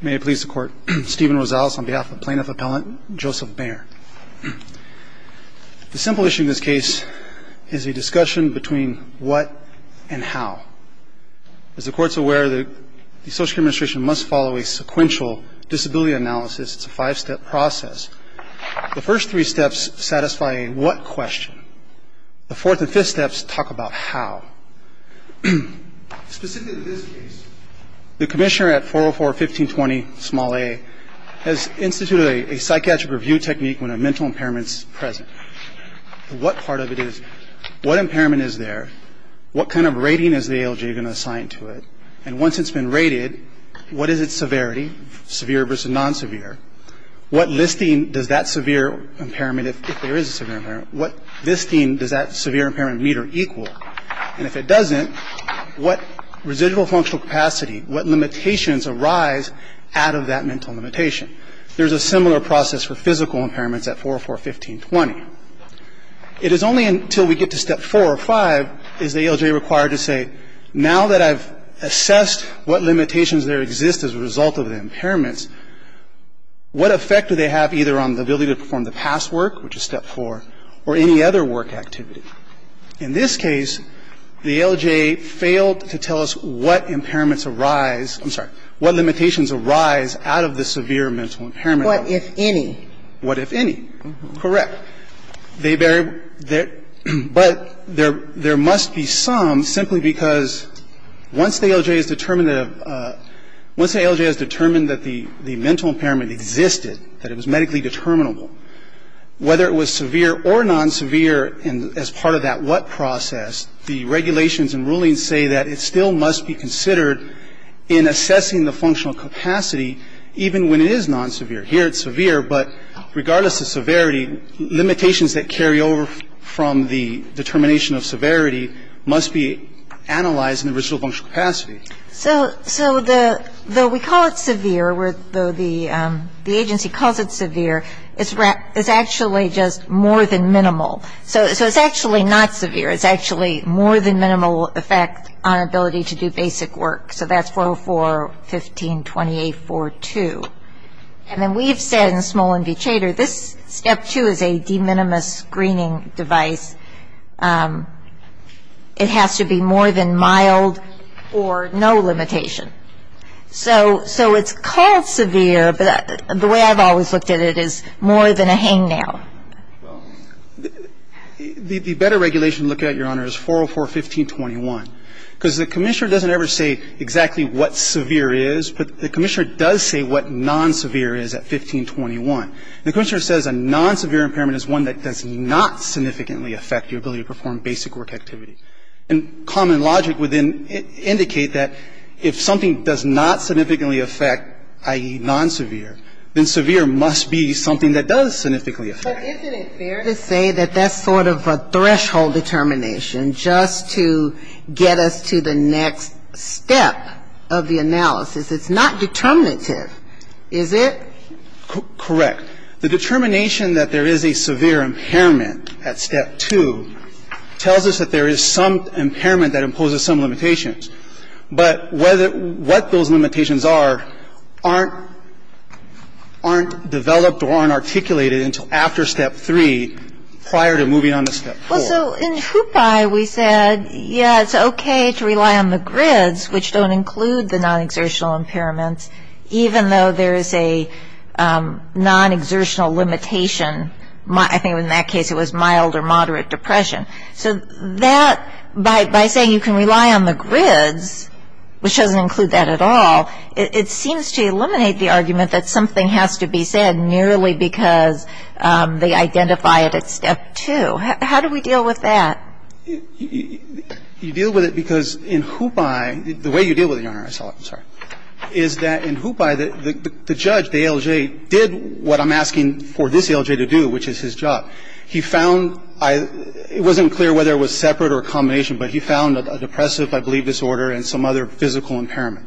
May it please the Court, Stephen Rosales on behalf of Plaintiff Appellant Joseph Maher. The simple issue in this case is a discussion between what and how. As the Court's aware, the Social Security Administration must follow a sequential disability analysis. It's a five-step process. The first three steps satisfy a what question. The fourth and fifth steps talk about how. Specifically in this case, the Commissioner at 404-1520-a has instituted a psychiatric review technique when a mental impairment is present. What part of it is, what impairment is there, what kind of rating is the ALJ going to assign to it, and once it's been rated, what is its severity, severe versus non-severe, what listing does that severe impairment, if there is a severe impairment, what listing does that severe impairment meet or equal, and if it doesn't, what residual functional capacity, what limitations arise out of that mental limitation. There's a similar process for physical impairments at 404-1520. It is only until we get to step four or five is the ALJ required to say, now that I've assessed what limitations there exist as a result of the impairments, what effect do they have either on the ability to perform the past work, which is step four, or any other work activity. In this case, the ALJ failed to tell us what impairments arise, I'm sorry, what limitations arise out of the severe mental impairment. What if any? What if any. Correct. They bear, but there must be some simply because once the ALJ has determined that the mental impairment existed, that it was medically determinable, whether it was severe or non-severe as part of that what process, the regulations and rulings say that it still must be considered in assessing the functional capacity, even when it is non-severe. Here it's severe, but regardless of severity, limitations that carry over from the determination of severity must be analyzed in the residual functional capacity. So though we call it severe, though the agency calls it severe, it's actually just more than minimal. So it's actually not severe. It's actually more than minimal effect on ability to do basic work. So that's 404.15.28.42. And then we've said in Smolin v. Chater, this step two is a de minimis screening device. It has to be more than mild or no limitation. So it's called severe, but the way I've always looked at it is more than a hangnail. The better regulation to look at, Your Honor, is 404.15.21, because the commissioner doesn't ever say exactly what severe is, but the commissioner does say what non-severe is at 1521. The commissioner says a non-severe impairment is one that does not significantly affect your ability to perform basic work activity. And common logic would then indicate that if something does not significantly affect, i.e., non-severe, then severe must be something that does significantly affect. But isn't it fair to say that that's sort of a threshold determination just to get us to the next step of the analysis? It's not determinative, is it? Correct. The determination that there is a severe impairment at step two tells us that there is some impairment that imposes some limitations. But what those limitations are aren't developed or aren't articulated until after step three prior to moving on to step four. Well, so in Chupai, we said, yeah, it's okay to rely on the grids, which don't include the non-exertional impairments, even though there is a non-exertional limitation. I think in that case it was mild or moderate depression. So that, by saying you can rely on the grids, which doesn't include that at all, it seems to eliminate the argument that something has to be said merely because they identify it at step two. How do we deal with that? You deal with it because in Chupai, the way you deal with it, Your Honor, I saw it. I'm sorry. Is that in Chupai, the judge, the ALJ, did what I'm asking for this ALJ to do, which is his job. He found, it wasn't clear whether it was separate or a combination, but he found a depressive, I believe, disorder and some other physical impairment.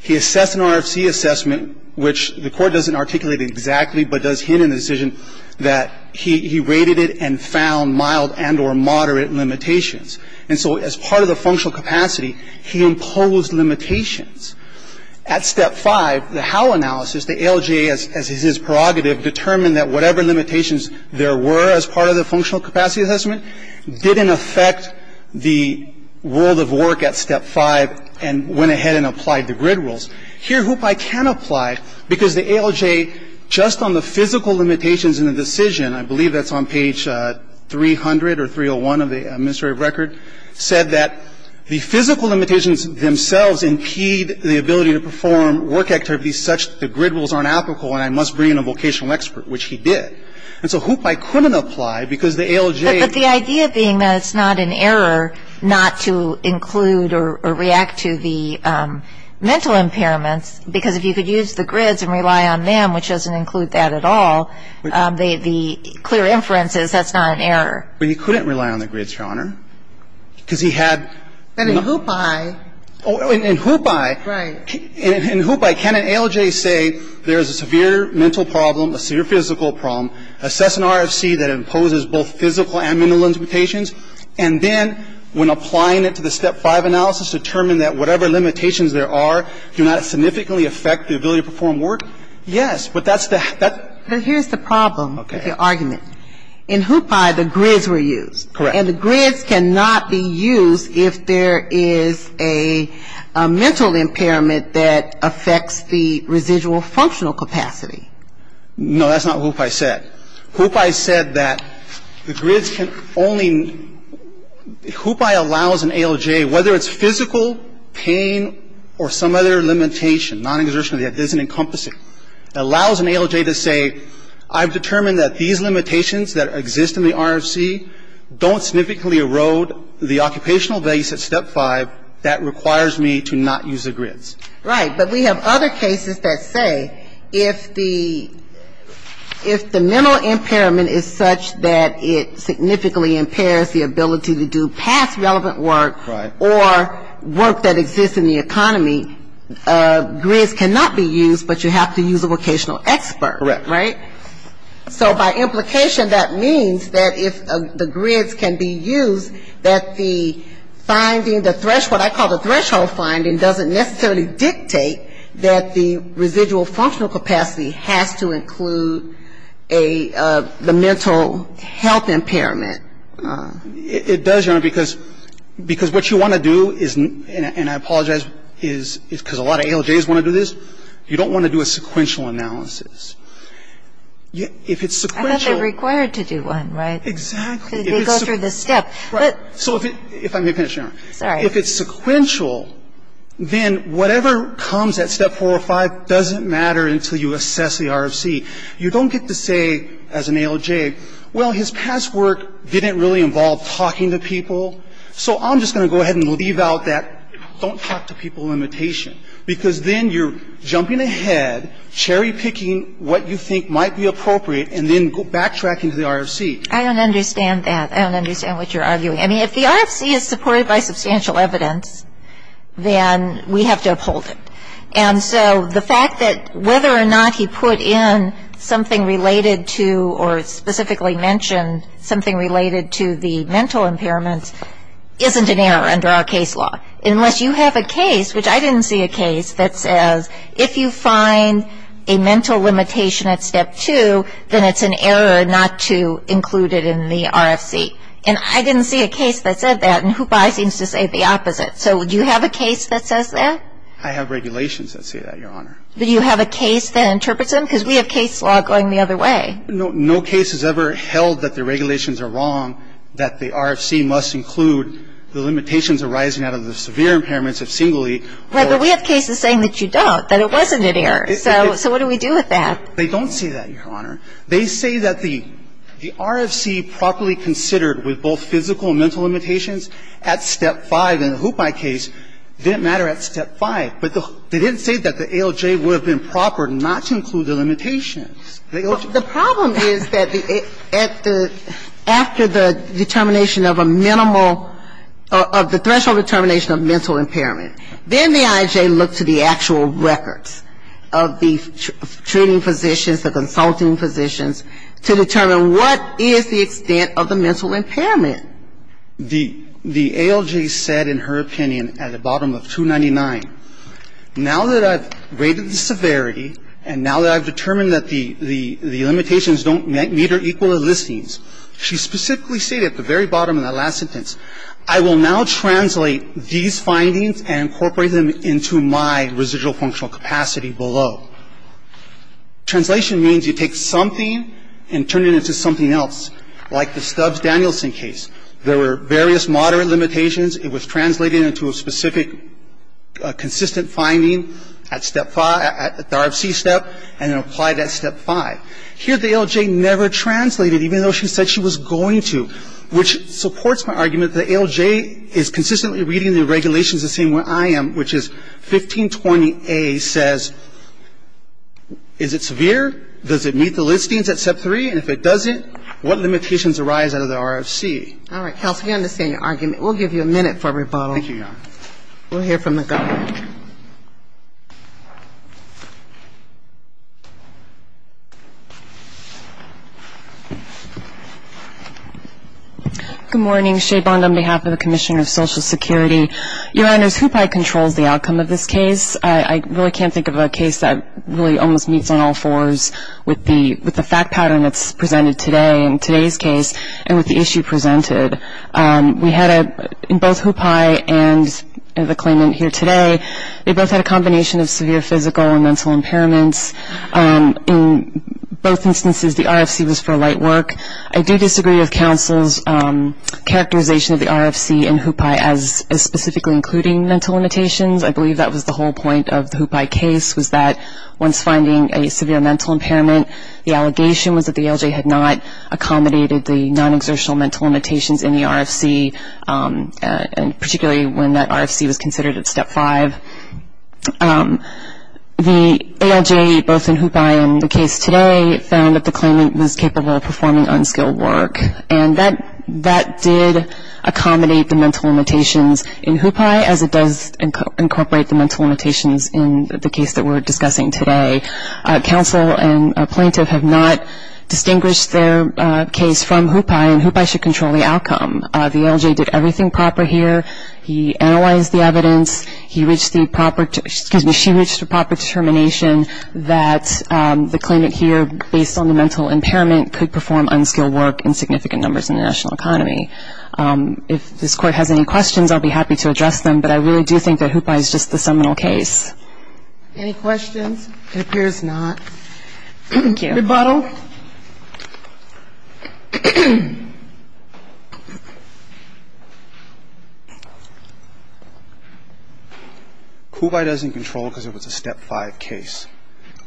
He assessed an RFC assessment, which the Court doesn't articulate exactly, but does hint in the decision that he rated it and found mild and or moderate limitations. And so as part of the functional capacity, he imposed limitations. At step five, the Howe analysis, the ALJ, as is his prerogative, determined that whatever limitations there were as part of the functional capacity assessment didn't affect the world of work at step five and went ahead and applied the grid rules. Here, Chupai can apply because the ALJ, just on the physical limitations in the decision, I believe that's on page 300 or 301 of the Administrative Record, said that the physical limitations themselves impede the ability to perform work activities such that the grid rules aren't applicable and I must bring in a vocational expert, which he did. And so Chupai couldn't apply because the ALJ ---- Because if you could use the grids and rely on them, which doesn't include that at all, the clear inference is that's not an error. But he couldn't rely on the grids, Your Honor, because he had ---- But in Chupai ---- Oh, in Chupai ---- Right. In Chupai, can an ALJ say there is a severe mental problem, a severe physical problem, assess an RFC that imposes both physical and mental limitations, and then when applying it to the step five analysis, determine that whatever limitations there are do not significantly affect the ability to perform work? Yes, but that's the ---- But here's the problem with your argument. In Chupai, the grids were used. Correct. And the grids cannot be used if there is a mental impairment that affects the residual functional capacity. No, that's not what Chupai said. Chupai said that the grids can only ---- Okay. Whether it's physical, pain, or some other limitation, non-exertion, that doesn't encompass it. It allows an ALJ to say I've determined that these limitations that exist in the RFC don't significantly erode the occupational values at step five that requires me to not use the grids. Right. But we have other cases that say if the ---- if the mental impairment is such that it significantly impairs the ability to do past relevant work, or work that exists in the economy, grids cannot be used, but you have to use a vocational expert. Correct. Right? So by implication, that means that if the grids can be used, that the finding, the threshold, what I call the threshold finding doesn't necessarily dictate that the residual functional capacity has to include the mental health impairment. It does, Your Honor, because what you want to do is, and I apologize, because a lot of ALJs want to do this, you don't want to do a sequential analysis. If it's sequential ---- I thought they were required to do one, right? Exactly. They go through the step. Right. So if it ---- if I may finish, Your Honor. Sorry. If it's sequential, then whatever comes at step four or five doesn't matter until you assess the RFC. You don't get to say as an ALJ, well, his past work didn't really involve talking to people, so I'm just going to go ahead and leave out that don't talk to people limitation, because then you're jumping ahead, cherry picking what you think might be appropriate, and then backtracking to the RFC. I don't understand that. I don't understand what you're arguing. I mean, if the RFC is supported by substantial evidence, then we have to uphold it. And so the fact that whether or not he put in something related to or specifically mentioned something related to the mental impairments isn't an error under our case law, unless you have a case, which I didn't see a case, that says if you find a mental limitation at step two, then it's an error not to include it in the RFC. And I didn't see a case that said that, and HOOPAI seems to say the opposite. So do you have a case that says that? I have regulations that say that, Your Honor. But do you have a case that interprets them? Because we have case law going the other way. No case has ever held that the regulations are wrong, that the RFC must include the limitations arising out of the severe impairments of singly. Right. But we have cases saying that you don't, that it wasn't an error. So what do we do with that? They don't say that, Your Honor. They say that the RFC properly considered with both physical and mental limitations at step five in the HOOPAI case didn't matter at step five. But they didn't say that the ALJ would have been proper not to include the limitations. The problem is that after the determination of a minimal of the threshold determination of mental impairment, then the IJ looks to the actual records of the treating physicians, the consulting physicians, to determine what is the extent of the mental impairment. The ALJ said in her opinion at the bottom of 299, now that I've rated the severity and now that I've determined that the limitations don't meet or equal the listings, she specifically stated at the very bottom of that last sentence, I will now translate these findings and incorporate them into my residual functional capacity below. Translation means you take something and turn it into something else, like the Stubbs-Danielson case. There were various moderate limitations. It was translated into a specific consistent finding at step five, at the RFC step, and then applied at step five. Here the ALJ never translated, even though she said she was going to, which supports my argument that the ALJ is consistently reading the regulations the same way I am, which is 1520A says is it severe? Does it meet the listings at step three? And if it doesn't, what limitations arise out of the RFC? All right. Counsel, we understand your argument. We'll give you a minute for rebuttal. Thank you, Your Honor. We'll hear from the government. Thank you. Good morning. Shea Bond on behalf of the Commissioner of Social Security. Your Honors, HUPAI controls the outcome of this case. I really can't think of a case that really almost meets on all fours with the fact pattern that's presented today, in today's case, and with the issue presented. We had a, in both HUPAI and the claimant here today, they both had a combination of severe physical and mental impairments. In both instances, the RFC was for light work. I do disagree with counsel's characterization of the RFC and HUPAI as specifically including mental limitations. I believe that was the whole point of the HUPAI case was that once finding a severe mental impairment, the allegation was that the ALJ had not accommodated the non-exertional mental limitations in the RFC, and particularly when that RFC was considered at step five. The ALJ, both in HUPAI and the case today, found that the claimant was capable of performing unskilled work, and that did accommodate the mental limitations in HUPAI, as it does incorporate the mental limitations in the case that we're discussing today. Counsel and a plaintiff have not distinguished their case from HUPAI, and HUPAI should control the outcome. The ALJ did everything proper here. He analyzed the evidence. He reached the proper, excuse me, she reached the proper determination that the claimant here, based on the mental impairment, could perform unskilled work in significant numbers in the national economy. If this Court has any questions, I'll be happy to address them, but I really do think that HUPAI is just the seminal case. Any questions? It appears not. Thank you. Rebuttal. HUPAI doesn't control because it was a step five case.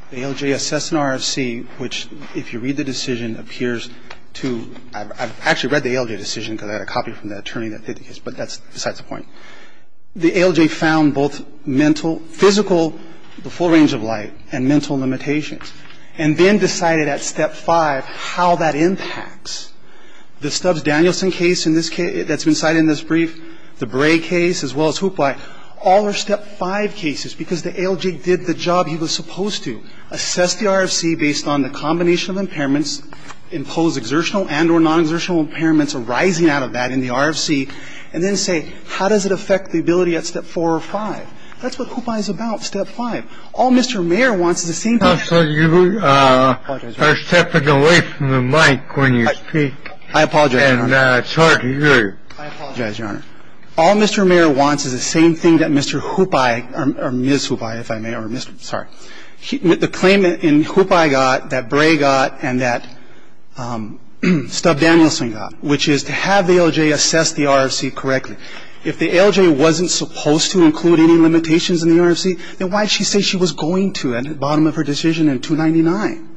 The ALJ assessed an RFC which, if you read the decision, appears to ‑‑ I've actually read the ALJ decision because I had a copy from the attorney that did the case, but that's besides the point. The ALJ found both mental, physical, the full range of light, and mental limitations and then decided at step five how that impacts. The Stubbs‑Danielson case that's been cited in this brief, the Bray case, as well as HUPAI, all are step five cases because the ALJ did the job he was supposed to, assess the RFC based on the combination of impairments, impose exertional and or non‑exertional impairments arising out of that in the RFC, and then say how does it affect the ability at step four or five. That's what HUPAI is about, step five. All Mr. Mayer wants is the same thing. Counsel, you are stepping away from the mic when you speak. I apologize, Your Honor. And it's hard to hear you. I apologize, Your Honor. All Mr. Mayer wants is the same thing that Mr. HUPAI, or Ms. HUPAI, if I may, or Mr. ‑‑ sorry, the claim in HUPAI got that Bray got and that Stubbs‑Danielson got, which is to have the ALJ assess the RFC correctly. If the ALJ wasn't supposed to include any limitations in the RFC, then why did she say she was going to at the bottom of her decision in 299?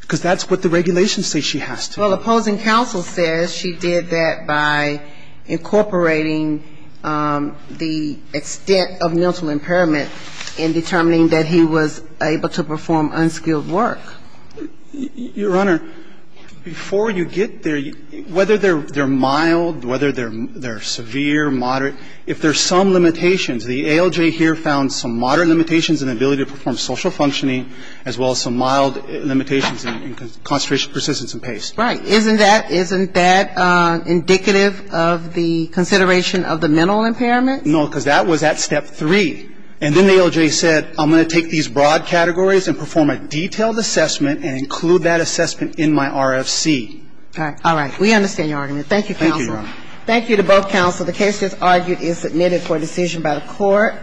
Because that's what the regulations say she has to. Well, opposing counsel says she did that by incorporating the extent of mental impairment in determining that he was able to perform unskilled work. Your Honor, before you get there, whether they're mild, whether they're severe, moderate, if there's some limitations, the ALJ here found some moderate limitations in the ability to perform social functioning as well as some mild limitations in concentration, persistence and pace. Right. Isn't that indicative of the consideration of the mental impairment? No, because that was at step three. And then the ALJ said I'm going to take these broad categories and perform a detailed assessment and include that assessment in my RFC. All right. We understand your argument. Thank you, counsel. Thank you, Your Honor. Thank you to both counsel. The case that's argued is submitted for decision by the court.